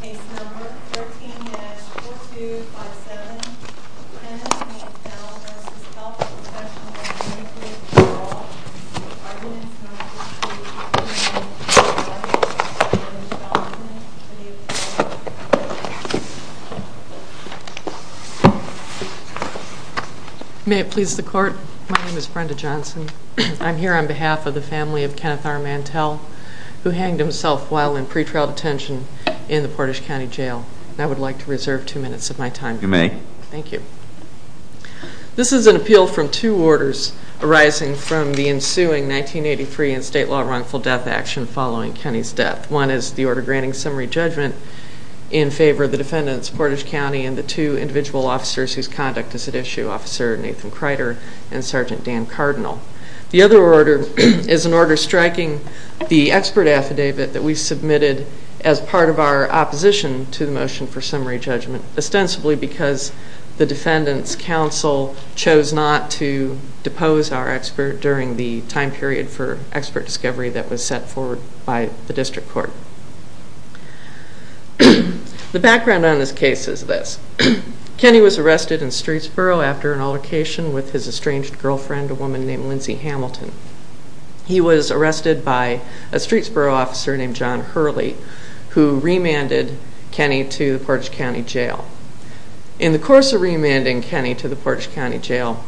Case number 13-4257, Kenneth R. Mantell v. Health Professionals Ltd. Parole. Arguments on the dispute between Kenneth R. Mantell and Brenda Johnson for the offense. May it please the court, my name is Brenda Johnson. I'm here on behalf of the family of Kenneth R. Mantell who hanged himself while in pretrial detention in the Portage County Jail. I would like to reserve two minutes of my time. You may. Thank you. This is an appeal from two orders arising from the ensuing 1983 and state law wrongful death action following Kenny's death. One is the order granting summary judgment in favor of the defendants, Portage County, and the two individual officers whose conduct is at issue, Nathan Kreider and Sergeant Dan Cardinal. The other order is an order striking the expert affidavit that we submitted as part of our opposition to the motion for summary judgment, ostensibly because the defendants' counsel chose not to depose our expert during the time period for expert discovery that was set forward by the district court. The background on this case is this. with his estranged girlfriend, a woman named Lindsay Hamilton. He was arrested by a Streetsboro officer named John Hurley who remanded Kenny to the Portage County Jail. In the course of remanding Kenny to the Portage County Jail,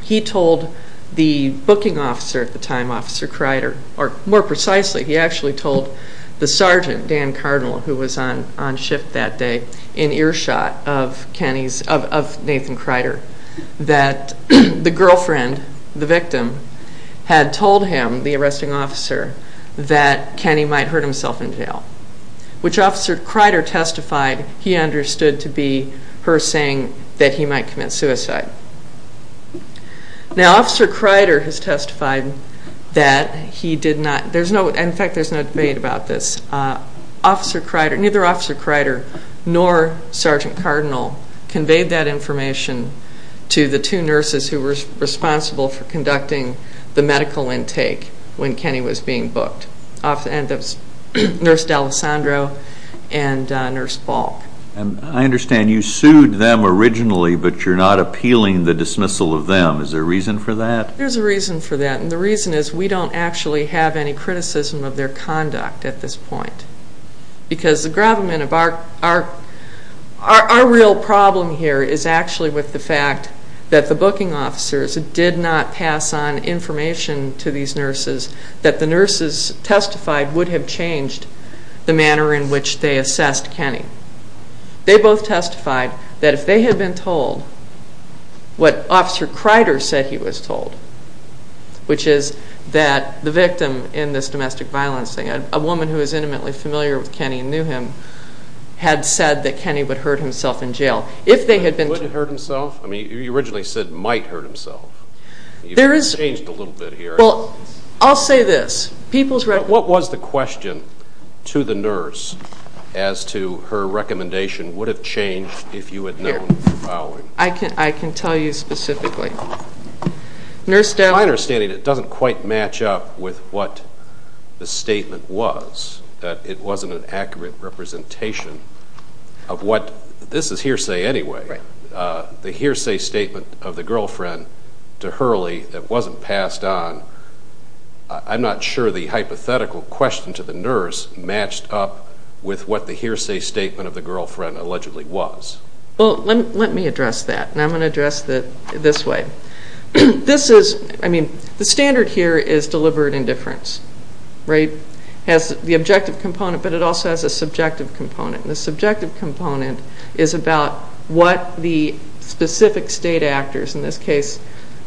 he told the booking officer at the time, Officer Kreider, or more precisely, he actually told the sergeant, Dan Cardinal, who was on shift that day, in earshot of Nathan Kreider, that the girlfriend, the victim, had told him, the arresting officer, that Kenny might hurt himself in jail, which Officer Kreider testified he understood to be her saying that he might commit suicide. Now Officer Kreider has testified that he did not, in fact there is no debate about this, neither Officer Kreider nor Sergeant Cardinal conveyed that information to the two nurses who were responsible for conducting the medical intake when Kenny was being booked, Nurse D'Alessandro and Nurse Balk. I understand you sued them originally but you're not appealing the dismissal of them. Is there a reason for that? There's a reason for that and the reason is we don't actually have any criticism of their conduct at this point because the gravamen of our real problem here is actually with the fact that the booking officers did not pass on information to these nurses that the nurses testified would have changed the manner in which they assessed Kenny. They both testified that if they had been told what Officer Kreider said he was told, which is that the victim in this domestic violence thing, a woman who was intimately familiar with Kenny and knew him, had said that Kenny would hurt himself in jail. If they had been told... He wouldn't hurt himself? I mean you originally said might hurt himself. There is... You've changed a little bit here. Well, I'll say this. People's... What was the question to the nurse as to her recommendation would have changed if you had known... Here. I can tell you specifically. My understanding it doesn't quite match up with what the statement was, that it wasn't an accurate representation of what, this is hearsay anyway, the hearsay statement of the girlfriend to Hurley that wasn't passed on. I'm not sure the hypothetical question to the nurse matched up with what the hearsay statement of the girlfriend allegedly was. Well, let me address that, and I'm going to address it this way. This is, I mean, the standard here is deliberate indifference, right? It has the objective component, but it also has a subjective component. The subjective component is about what the specific state actors, in this case,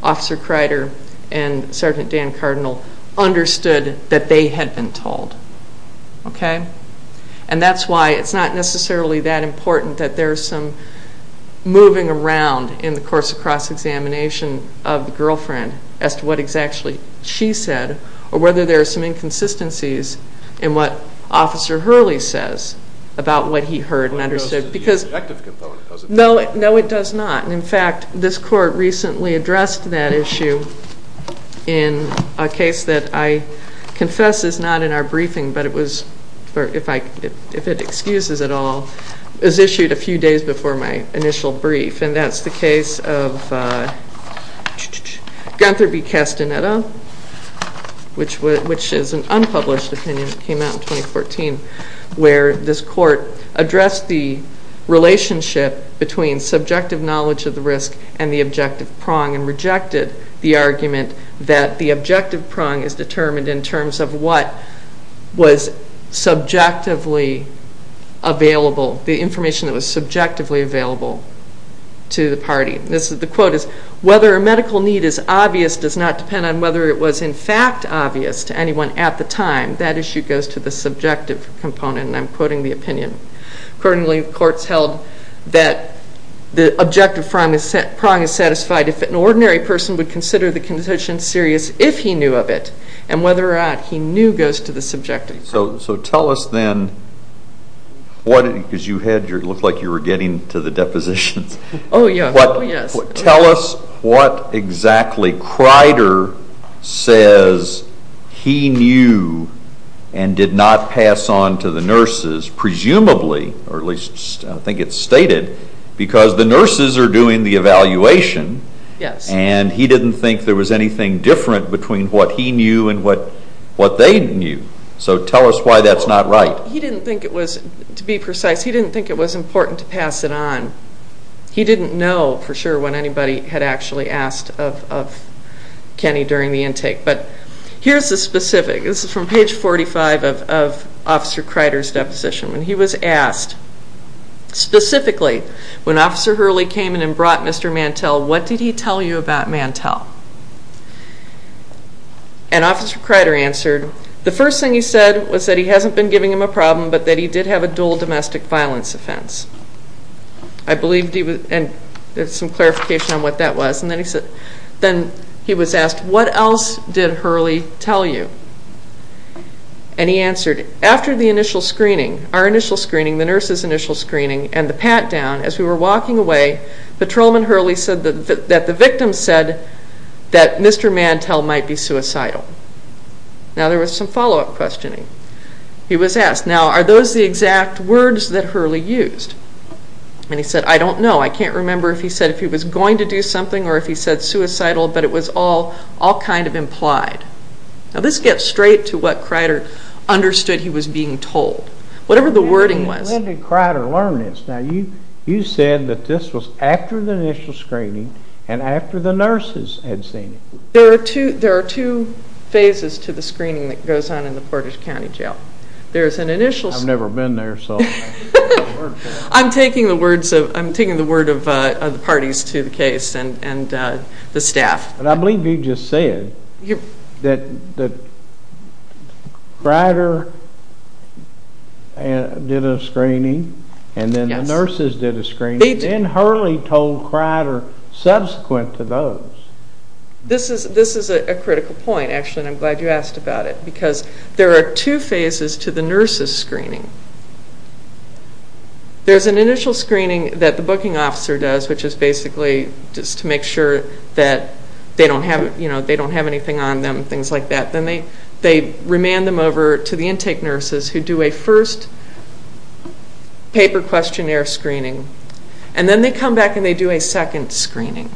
Officer Kreider and Sergeant Dan Cardinal, understood that they had been told. Okay? And that's why it's not necessarily that important that there's some moving around in the course of cross-examination of the girlfriend as to what exactly she said, or whether there are some inconsistencies in what Officer Hurley says about what he heard and understood. But it goes to the objective component, doesn't it? No, it does not. And, in fact, this court recently addressed that issue in a case that I confess is not in our briefing, but it was, if it excuses at all, was issued a few days before my initial brief, and that's the case of Gunther B. Castaneda, which is an unpublished opinion that came out in 2014, where this court addressed the relationship between subjective knowledge of the risk and the objective prong and rejected the argument that the objective prong is determined in terms of what was subjectively available, the information that was subjectively available to the party. The quote is, Whether a medical need is obvious does not depend on whether it was, in fact, obvious to anyone at the time. That issue goes to the subjective component, and I'm quoting the opinion. Accordingly, the court's held that the objective prong is satisfied if an ordinary person would consider the condition serious if he knew of it, and whether or not he knew goes to the subjective component. So tell us then, because you looked like you were getting to the depositions. Oh, yes. Tell us what exactly Crider says he knew and did not pass on to the nurses, presumably, or at least I think it's stated, because the nurses are doing the evaluation, and he didn't think there was anything different between what he knew and what they knew. So tell us why that's not right. He didn't think it was, to be precise, he didn't think it was important to pass it on. He didn't know for sure when anybody had actually asked of Kenny during the intake. But here's the specific. This is from page 45 of Officer Crider's deposition. When he was asked, specifically, when Officer Hurley came in and brought Mr. Mantell, what did he tell you about Mantell? And Officer Crider answered, The first thing he said was that he hasn't been giving him a problem, but that he did have a dual domestic violence offense. I believe he was, and there's some clarification on what that was. And then he said, then he was asked, What else did Hurley tell you? And he answered, After the initial screening, our initial screening, the nurses' initial screening, and the pat-down, as we were walking away, Patrolman Hurley said that the victim said that Mr. Mantell might be suicidal. Now there was some follow-up questioning. He was asked, Now are those the exact words that Hurley used? And he said, I don't know. I can't remember if he said if he was going to do something or if he said suicidal, but it was all kind of implied. Now this gets straight to what Crider understood he was being told, whatever the wording was. When did Crider learn this? Now you said that this was after the initial screening and after the nurses had seen it. There are two phases to the screening that goes on in the Portage County Jail. I've never been there, so I don't know the word for it. I'm taking the word of the parties to the case and the staff. But I believe you just said that Crider did a screening and then the nurses did a screening, and then Hurley told Crider subsequent to those. This is a critical point, actually, and I'm glad you asked about it because there are two phases to the nurses' screening. There's an initial screening that the booking officer does, which is basically just to make sure that they don't have anything on them, things like that. Then they remand them over to the intake nurses, who do a first paper questionnaire screening, and then they come back and they do a second screening.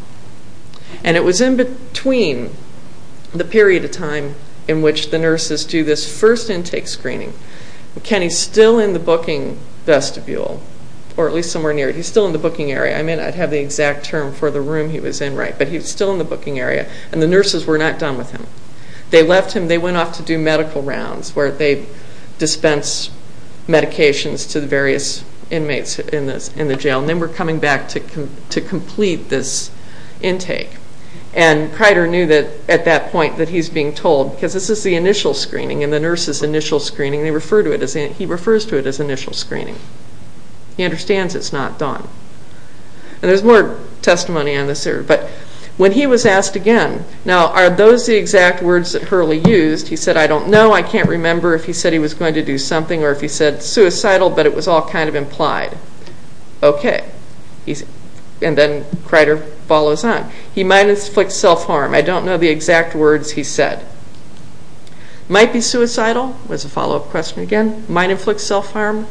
And it was in between the period of time in which the nurses do this first intake screening. Kenny's still in the booking vestibule, or at least somewhere near it. He's still in the booking area. I mean, I'd have the exact term for the room he was in, right? But he's still in the booking area, and the nurses were not done with him. They left him, they went off to do medical rounds, where they dispensed medications to the various inmates in the jail, and then were coming back to complete this intake. And Crider knew at that point that he's being told, because this is the initial screening and the nurse's initial screening, he refers to it as initial screening. He understands it's not done. And there's more testimony on this area. But when he was asked again, now are those the exact words that Hurley used? He said, I don't know. I can't remember if he said he was going to do something or if he said suicidal, but it was all kind of implied. Okay. And then Crider follows on. He might inflict self-harm. I don't know the exact words he said. Might be suicidal was a follow-up question again. Might inflict self-harm.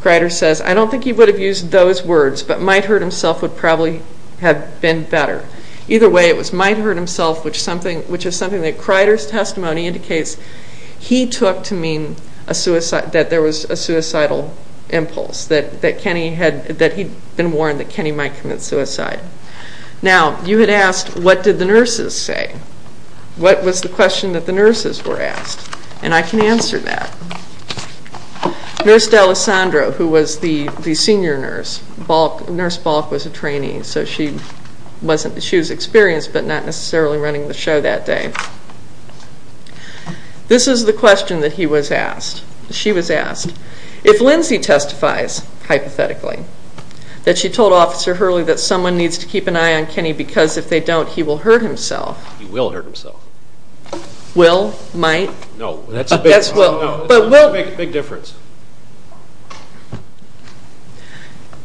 Crider says, I don't think he would have used those words, but might hurt himself would probably have been better. Either way, it was might hurt himself, which is something that Crider's testimony indicates he took to mean that there was a suicidal impulse, that he'd been warned that Kenny might commit suicide. Now, you had asked, what did the nurses say? What was the question that the nurses were asked? And I can answer that. Nurse D'Alessandro, who was the senior nurse, Nurse Balk was a trainee, so she was experienced but not necessarily running the show that day. This is the question that he was asked. She was asked, if Lindsay testifies, hypothetically, that she told Officer Hurley that someone needs to keep an eye on Kenny because if they don't he will hurt himself. He will hurt himself. Will, might. No, that's a big difference.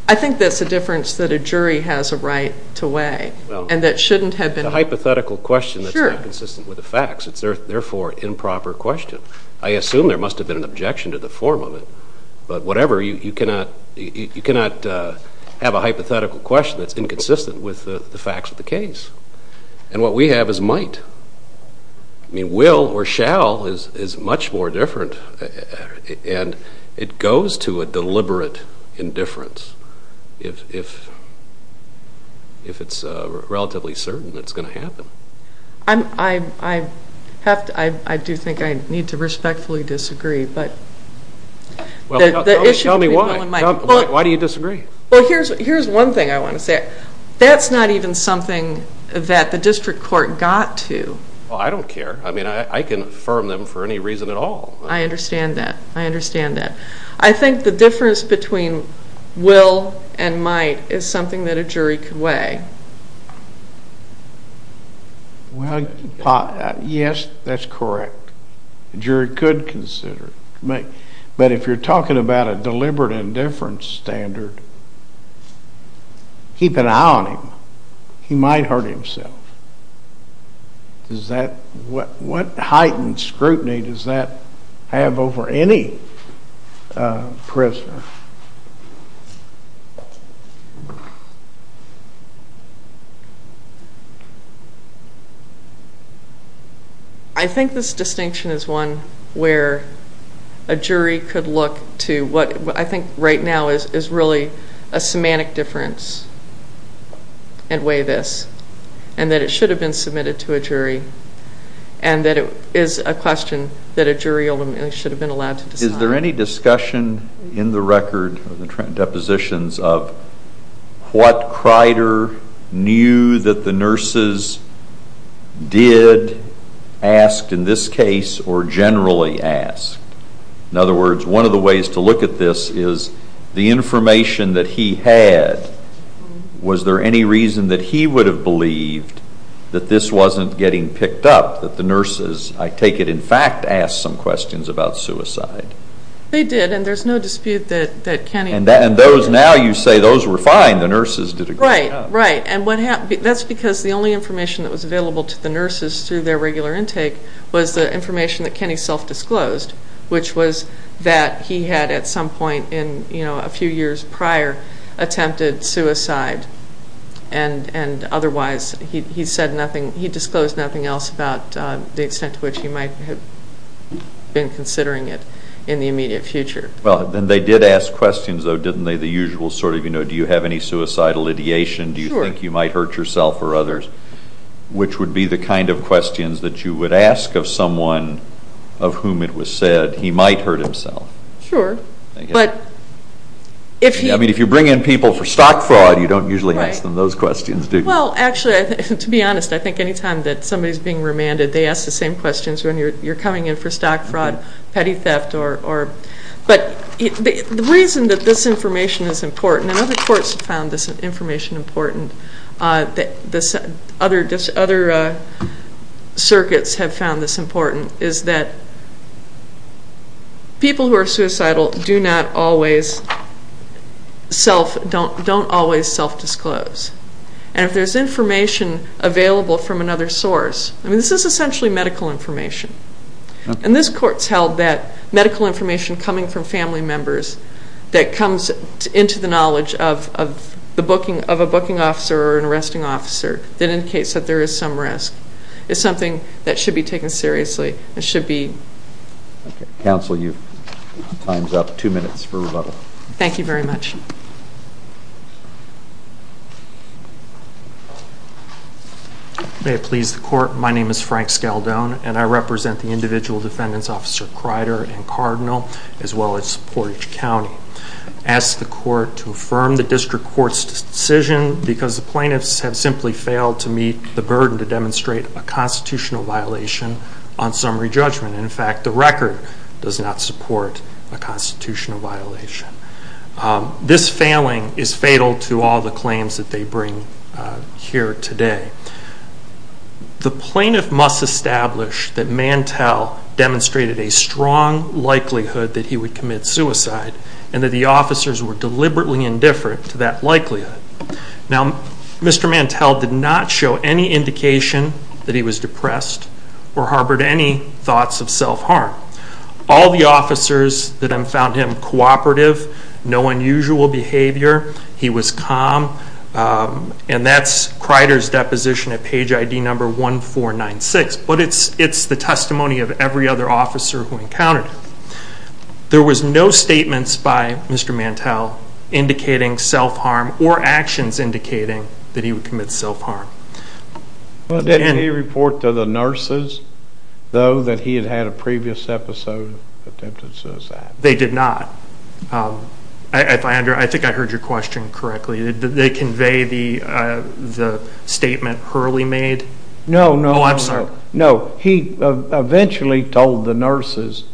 I think that's a difference that a jury has a right to weigh and that shouldn't have been... It's a hypothetical question that's inconsistent with the facts. It's therefore an improper question. I assume there must have been an objection to the form of it. But whatever, you cannot have a hypothetical question that's inconsistent with the facts of the case. And what we have is might. Will or shall is much more different. And it goes to a deliberate indifference if it's relatively certain it's going to happen. I do think I need to respectfully disagree. Tell me why. Why do you disagree? Here's one thing I want to say. That's not even something that the district court got to. Well, I don't care. I mean, I can affirm them for any reason at all. I understand that. I understand that. I think the difference between will and might is something that a jury could weigh. Well, yes, that's correct. A jury could consider it. But if you're talking about a deliberate indifference standard, keep an eye on him. He might hurt himself. What heightened scrutiny does that have over any prisoner? I think this distinction is one where a jury could look to what, I think right now, is really a semantic difference and weigh this. And that it should have been submitted to a jury. And that it is a question that a jury should have been allowed to decide. Is there any discussion in the record of the depositions of what Crider knew that the nurses did, asked in this case, or generally asked? In other words, one of the ways to look at this is, the information that he had, was there any reason that he would have believed that this wasn't getting picked up, that the nurses, I take it, in fact, asked some questions about suicide? They did, and there's no dispute that Kenny... And now you say those were fine, the nurses did a good job. Right, right. And that's because the only information that was available to the nurses through their regular intake was the information that Kenny self-disclosed, which was that he had, at some point in a few years prior, attempted suicide. And otherwise, he disclosed nothing else about the extent to which he might have been considering it in the immediate future. Well, then they did ask questions, though, didn't they? The usual sort of, you know, do you have any suicidal ideation? Do you think you might hurt yourself or others? Which would be the kind of questions that you would ask of someone of whom it was said he might hurt himself. Sure, but if he... I mean, if you bring in people for stock fraud, you don't usually ask them those questions, do you? Well, actually, to be honest, I think any time that somebody's being remanded, they ask the same questions when you're coming in for stock fraud, petty theft, or... But the reason that this information is important, and other courts have found this information important, other circuits have found this important, is that people who are suicidal do not always self... don't always self-disclose. And if there's information available from another source... I mean, this is essentially medical information. And this court's held that medical information coming from family members that comes into the knowledge of a booking officer or an arresting officer that indicates that there is some risk is something that should be taken seriously. It should be... Okay, counsel, your time's up. Two minutes for rebuttal. Thank you very much. May it please the court, my name is Frank Scaldone, and I represent the individual defendants, Officer Crider and Cardinal, as well as Portage County. I ask the court to affirm the district court's decision because the plaintiffs have simply failed to meet the burden to demonstrate a constitutional violation on summary judgment. In fact, the record does not support a constitutional violation. This failing is fatal to all the claims that they bring here today. The plaintiff must establish that Mantell demonstrated a strong likelihood that he would commit suicide and that the officers were deliberately indifferent to that likelihood. Now, Mr. Mantell did not show any indication that he was depressed or harbored any thoughts of self-harm. All the officers found him cooperative, no unusual behavior. He was calm. And that's Crider's deposition at page ID 1496. But it's the testimony of every other officer who encountered him. There was no statements by Mr. Mantell indicating self-harm or actions indicating that he would commit self-harm. Did he report to the nurses, though, that he had had a previous episode of attempted suicide? They did not. I think I heard your question correctly. Did they convey the statement Hurley made? No, no, no. Oh, I'm sorry. No, he eventually told the nurses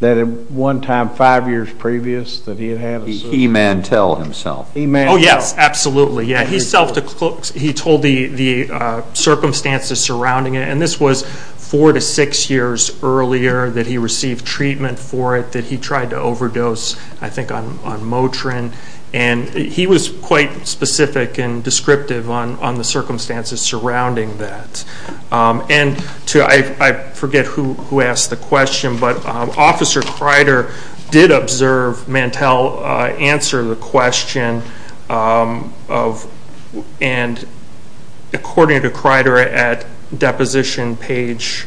that at one time, 5 years previous, that he had had a suicide. He, Mantell, himself. Oh, yes, absolutely. He told the circumstances surrounding it. And this was 4 to 6 years earlier that he received treatment for it, that he tried to overdose, I think, on Motrin. And he was quite specific and descriptive on the circumstances surrounding that. And I forget who asked the question, but Officer Kreider did observe Mantell answer the question. And according to Kreider, at deposition page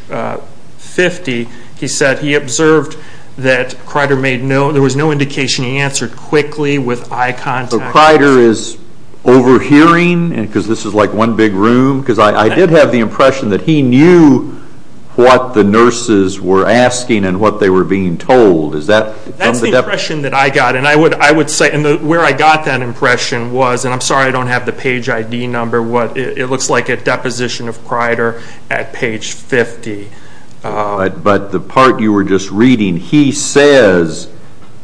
50, he said he observed that Kreider made no, there was no indication he answered quickly with eye contact. So Kreider is overhearing, because this is like one big room? Because I did have the impression that he knew what the nurses were asking and what they were being told. That's the impression that I got. And where I got that impression was, and I'm sorry I don't have the page ID number, it looks like at deposition of Kreider at page 50. But the part you were just reading, he says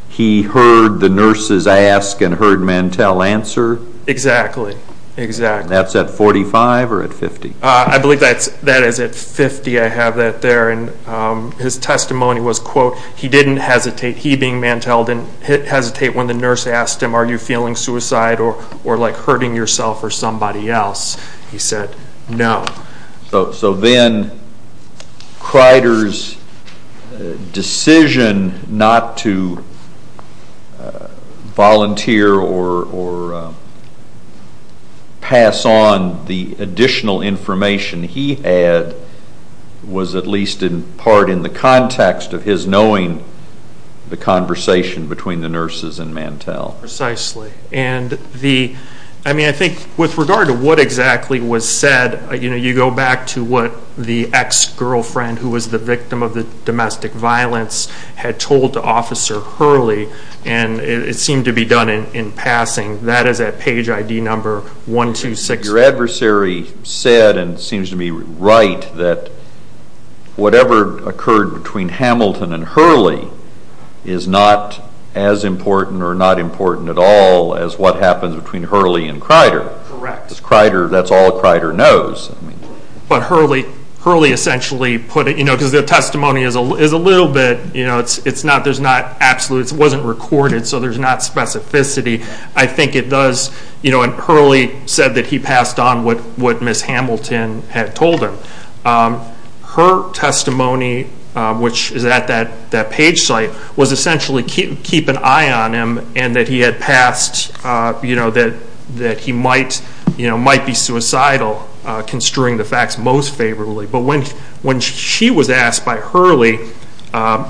he heard the nurses ask and heard Mantell answer? Exactly. That's at 45 or at 50? I believe that is at 50, I have that there. And his testimony was, quote, he didn't hesitate, he being Mantell, didn't hesitate when the nurse asked him, are you feeling suicide or hurting yourself or somebody else? He said, no. So then Kreider's decision not to volunteer or pass on the additional information he had was at least in part in the context of his knowing the conversation between the nurses and Mantell. Precisely. I think with regard to what exactly was said, you go back to what the ex-girlfriend who was the victim of the domestic violence had told Officer Hurley, and it seemed to be done in passing. That is at page ID number 126. Your adversary said, and it seems to me right, that whatever occurred between Hamilton and Hurley is not as important or not important at all as what happens between Hurley and Kreider. Correct. That's all Kreider knows. But Hurley essentially put it, because the testimony is a little bit, it wasn't recorded so there's not specificity. I think it does, and Hurley said that he passed on what Ms. Hamilton had told him. Her testimony, which is at that page site, was essentially keep an eye on him and that he had passed, that he might be suicidal, construing the facts most favorably. But when she was asked by Hurley,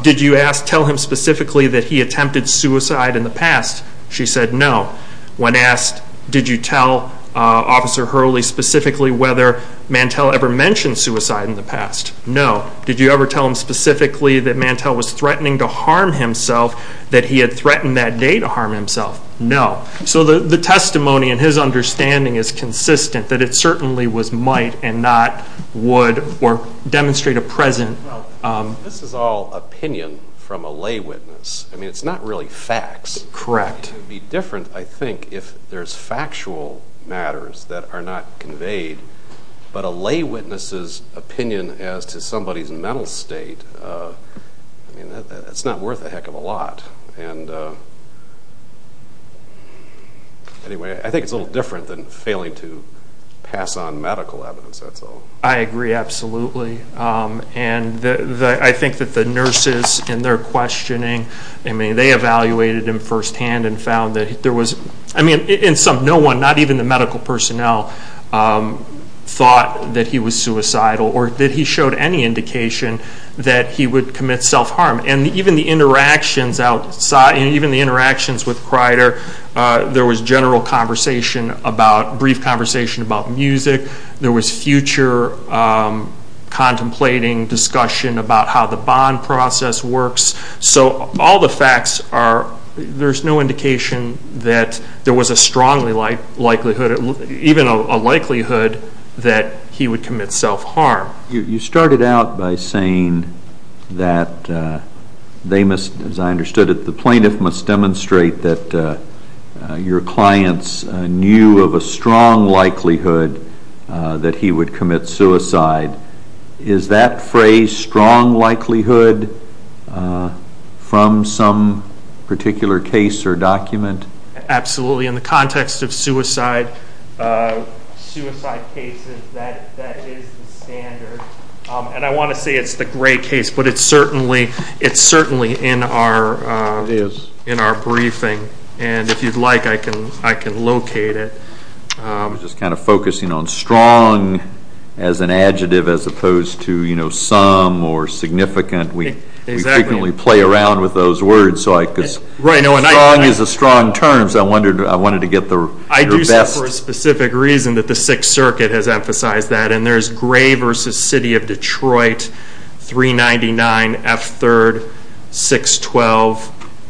did you tell him specifically that he attempted suicide in the past, she said no. When asked did you tell Officer Hurley specifically whether Mantell ever mentioned suicide in the past, no. Did you ever tell him specifically that Mantell was threatening to harm himself, that he had threatened that day to harm himself, no. So the testimony in his understanding is consistent that it certainly was might and not would or demonstrate a present. This is all opinion from a lay witness. It's not really facts. Correct. It would be different, I think, if there's factual matters that are not conveyed, but a lay witness's opinion as to somebody's mental state, it's not worth a heck of a lot. Anyway, I think it's a little different than failing to pass on medical evidence, that's all. I agree absolutely. I think that the nurses in their questioning, they evaluated him firsthand and found that there was, I mean, no one, not even the medical personnel, thought that he was suicidal or that he showed any indication that he would commit self-harm. And even the interactions with Kreider, there was general conversation about, brief conversation about music, there was future contemplating discussion about how the bond process works. So all the facts are, there's no indication that there was a strong likelihood, even a likelihood, that he would commit self-harm. You started out by saying that they must, as I understood it, the plaintiff must demonstrate that your clients knew of a strong likelihood that he would commit suicide. Is that phrase, strong likelihood, from some particular case or document? Absolutely. In the context of suicide cases, that is the standard. And I want to say it's the gray case, but it's certainly in our briefing. And if you'd like, I can locate it. I was just kind of focusing on strong as an adjective as opposed to some or significant. We frequently play around with those words. Strong is a strong term, so I wanted to get your best. I do say for a specific reason that the Sixth Circuit has emphasized that. And there's Gray v. City of Detroit, 399 F. 3rd, 612.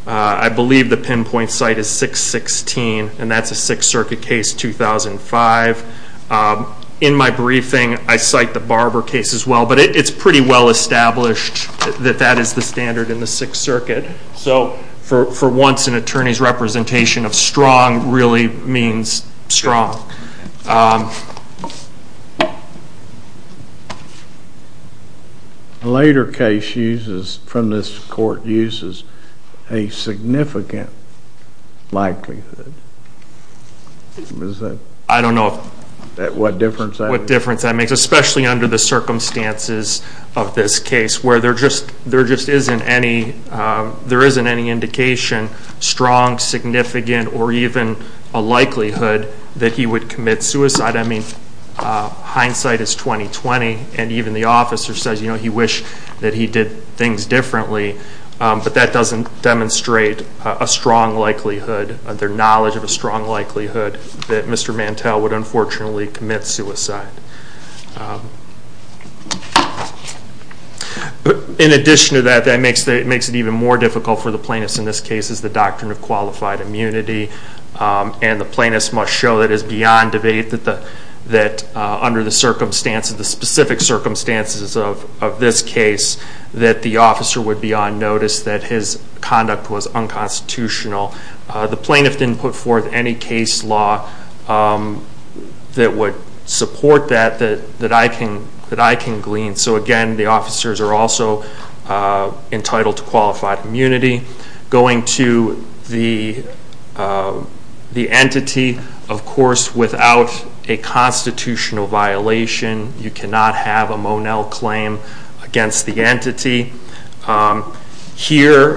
I believe the pinpoint site is 616, and that's a Sixth Circuit case, 2005. In my briefing, I cite the Barber case as well, but it's pretty well established that that is the standard in the Sixth Circuit. So for once, an attorney's representation of strong really means strong. A later case from this court uses a significant likelihood. I don't know what difference that makes, especially under the circumstances of this case where there just isn't any indication, strong, significant, or even a likelihood that he would commit suicide. I mean, hindsight is 20-20, and even the officer says he wished that he did things differently, but that doesn't demonstrate a strong likelihood, their knowledge of a strong likelihood that Mr. Mantel would unfortunately commit suicide. In addition to that, that makes it even more difficult for the plaintiffs in this case is the doctrine of qualified immunity, and the plaintiffs must show that it is beyond debate that under the specific circumstances of this case that the officer would be on notice that his conduct was unconstitutional. The plaintiff didn't put forth any case law that would support that that I can glean. So again, the officers are also entitled to qualified immunity. Going to the entity, of course, without a constitutional violation, you cannot have a Monell claim against the entity. Here,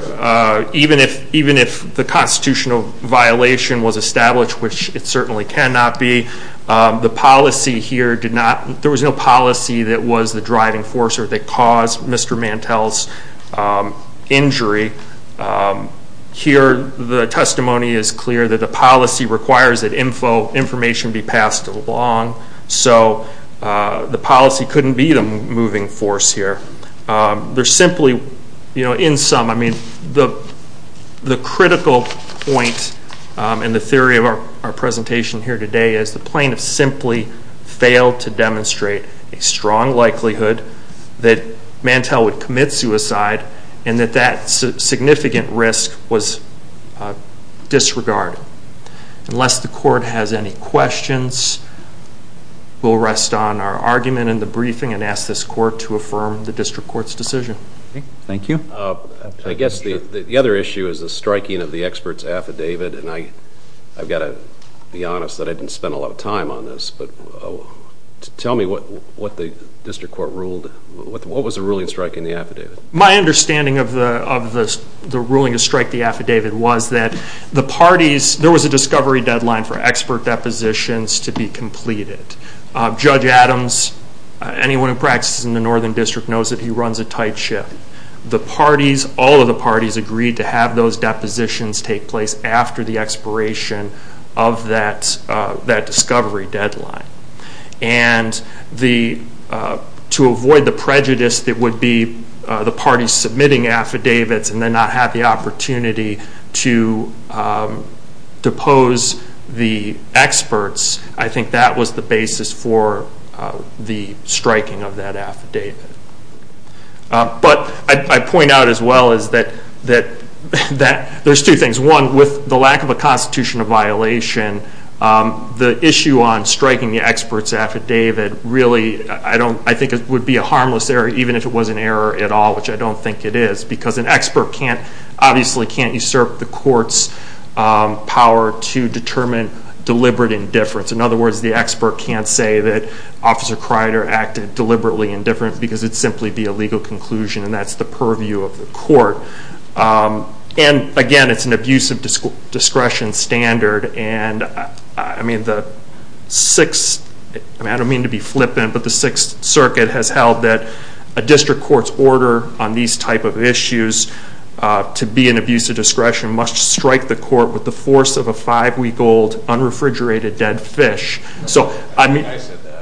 even if the constitutional violation was established, which it certainly cannot be, the policy here did not, there was no policy that was the driving force or that caused Mr. Mantel's injury. Here, the testimony is clear that the policy requires that information be passed along, so the policy couldn't be the moving force here. There's simply, in sum, I mean, the critical point in the theory of our presentation here today is the plaintiffs simply failed to demonstrate a strong likelihood that Mantel would commit suicide and that that significant risk was disregarded. Unless the court has any questions, we'll rest on our argument in the briefing and ask this court to affirm the district court's decision. Thank you. I guess the other issue is the striking of the expert's affidavit, and I've got to be honest that I didn't spend a lot of time on this, but tell me what the district court ruled, what was the ruling striking the affidavit? My understanding of the ruling to strike the affidavit was that the parties, there was a discovery deadline for expert depositions to be completed. Judge Adams, anyone who practices in the Northern District, knows that he runs a tight ship. The parties, all of the parties, agreed to have those depositions take place after the expiration of that discovery deadline. And to avoid the prejudice that would be the parties submitting affidavits and then not have the opportunity to depose the experts, I think that was the basis for the striking of that affidavit. But I point out as well is that there's two things. One, with the lack of a constitutional violation, the issue on striking the expert's affidavit really, I think it would be a harmless error, even if it was an error at all, which I don't think it is, because an expert obviously can't usurp the court's power to determine deliberate indifference. In other words, the expert can't say that Officer Kreider acted deliberately indifferently because it would simply be a legal conclusion, and that's the purview of the court. And again, it's an abuse of discretion standard, and I don't mean to be flippant, but the Sixth Circuit has held that a district court's order on these type of issues to be an abuse of discretion must strike the court with the force of a five-week-old, unrefrigerated dead fish. So, I mean... I said that.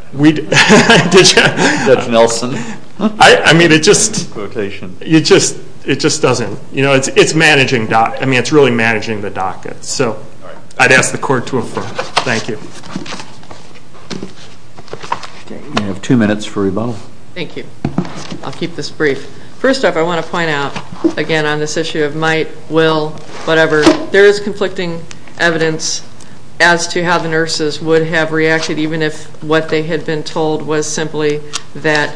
Did you? Judge Nelson. I mean, it just... Quotation. It just doesn't... You know, it's managing... I mean, it's really managing the docket. So I'd ask the court to affirm. Thank you. We have two minutes for rebuttal. Thank you. I'll keep this brief. First off, I want to point out, again, on this issue of might, will, whatever, there is conflicting evidence as to how the nurses would have reacted even if what they had been told was simply that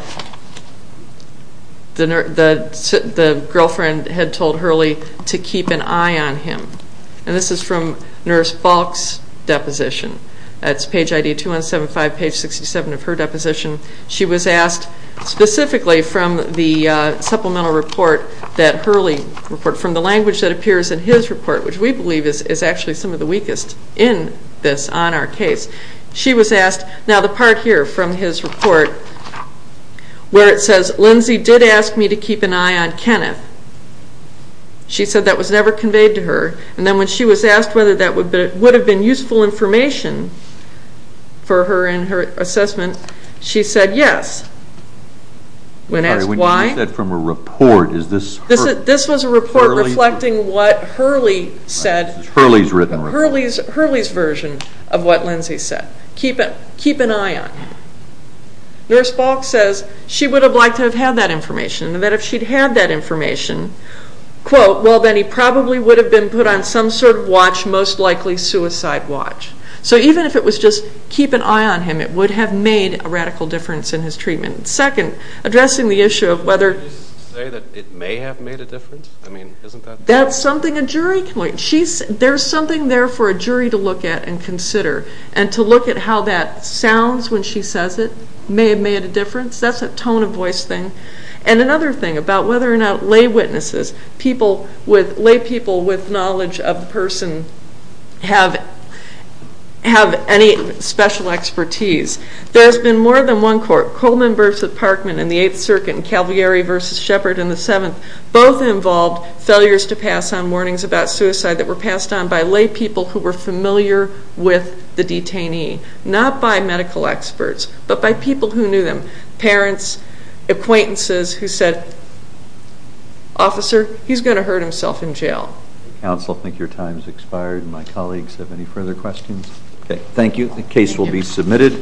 the girlfriend had told Hurley to keep an eye on him. And this is from Nurse Falk's deposition. That's page ID 2175, page 67 of her deposition. She was asked specifically from the supplemental report, that Hurley report, from the language that appears in his report, which we believe is actually some of the weakest in this on our case. She was asked. Now, the part here from his report where it says, Lindsay did ask me to keep an eye on Kenneth. She said that was never conveyed to her. And then when she was asked whether that would have been useful information for her in her assessment, she said yes. When asked why. When you said from a report, is this Hurley? This is a report reflecting what Hurley said. This is Hurley's written report. Hurley's version of what Lindsay said. Keep an eye on him. Nurse Falk says she would have liked to have had that information, and that if she'd had that information, quote, well, then he probably would have been put on some sort of watch, most likely suicide watch. So even if it was just keep an eye on him, it would have made a radical difference in his treatment. Second, addressing the issue of whether. Would you say that it may have made a difference? I mean, isn't that. That's something a jury can look. There's something there for a jury to look at and consider, and to look at how that sounds when she says it may have made a difference. That's a tone of voice thing. And another thing about whether or not lay witnesses, lay people with knowledge of the person have any special expertise. There's been more than one court. Coleman versus Parkman in the Eighth Circuit and Calvary versus Shepard in the Seventh, both involved failures to pass on warnings about suicide that were passed on by lay people who were familiar with the detainee, not by medical experts, but by people who knew them, parents, acquaintances who said, Officer, he's going to hurt himself in jail. Counsel, I think your time has expired, and my colleagues have any further questions? Okay. Thank you. The case will be submitted.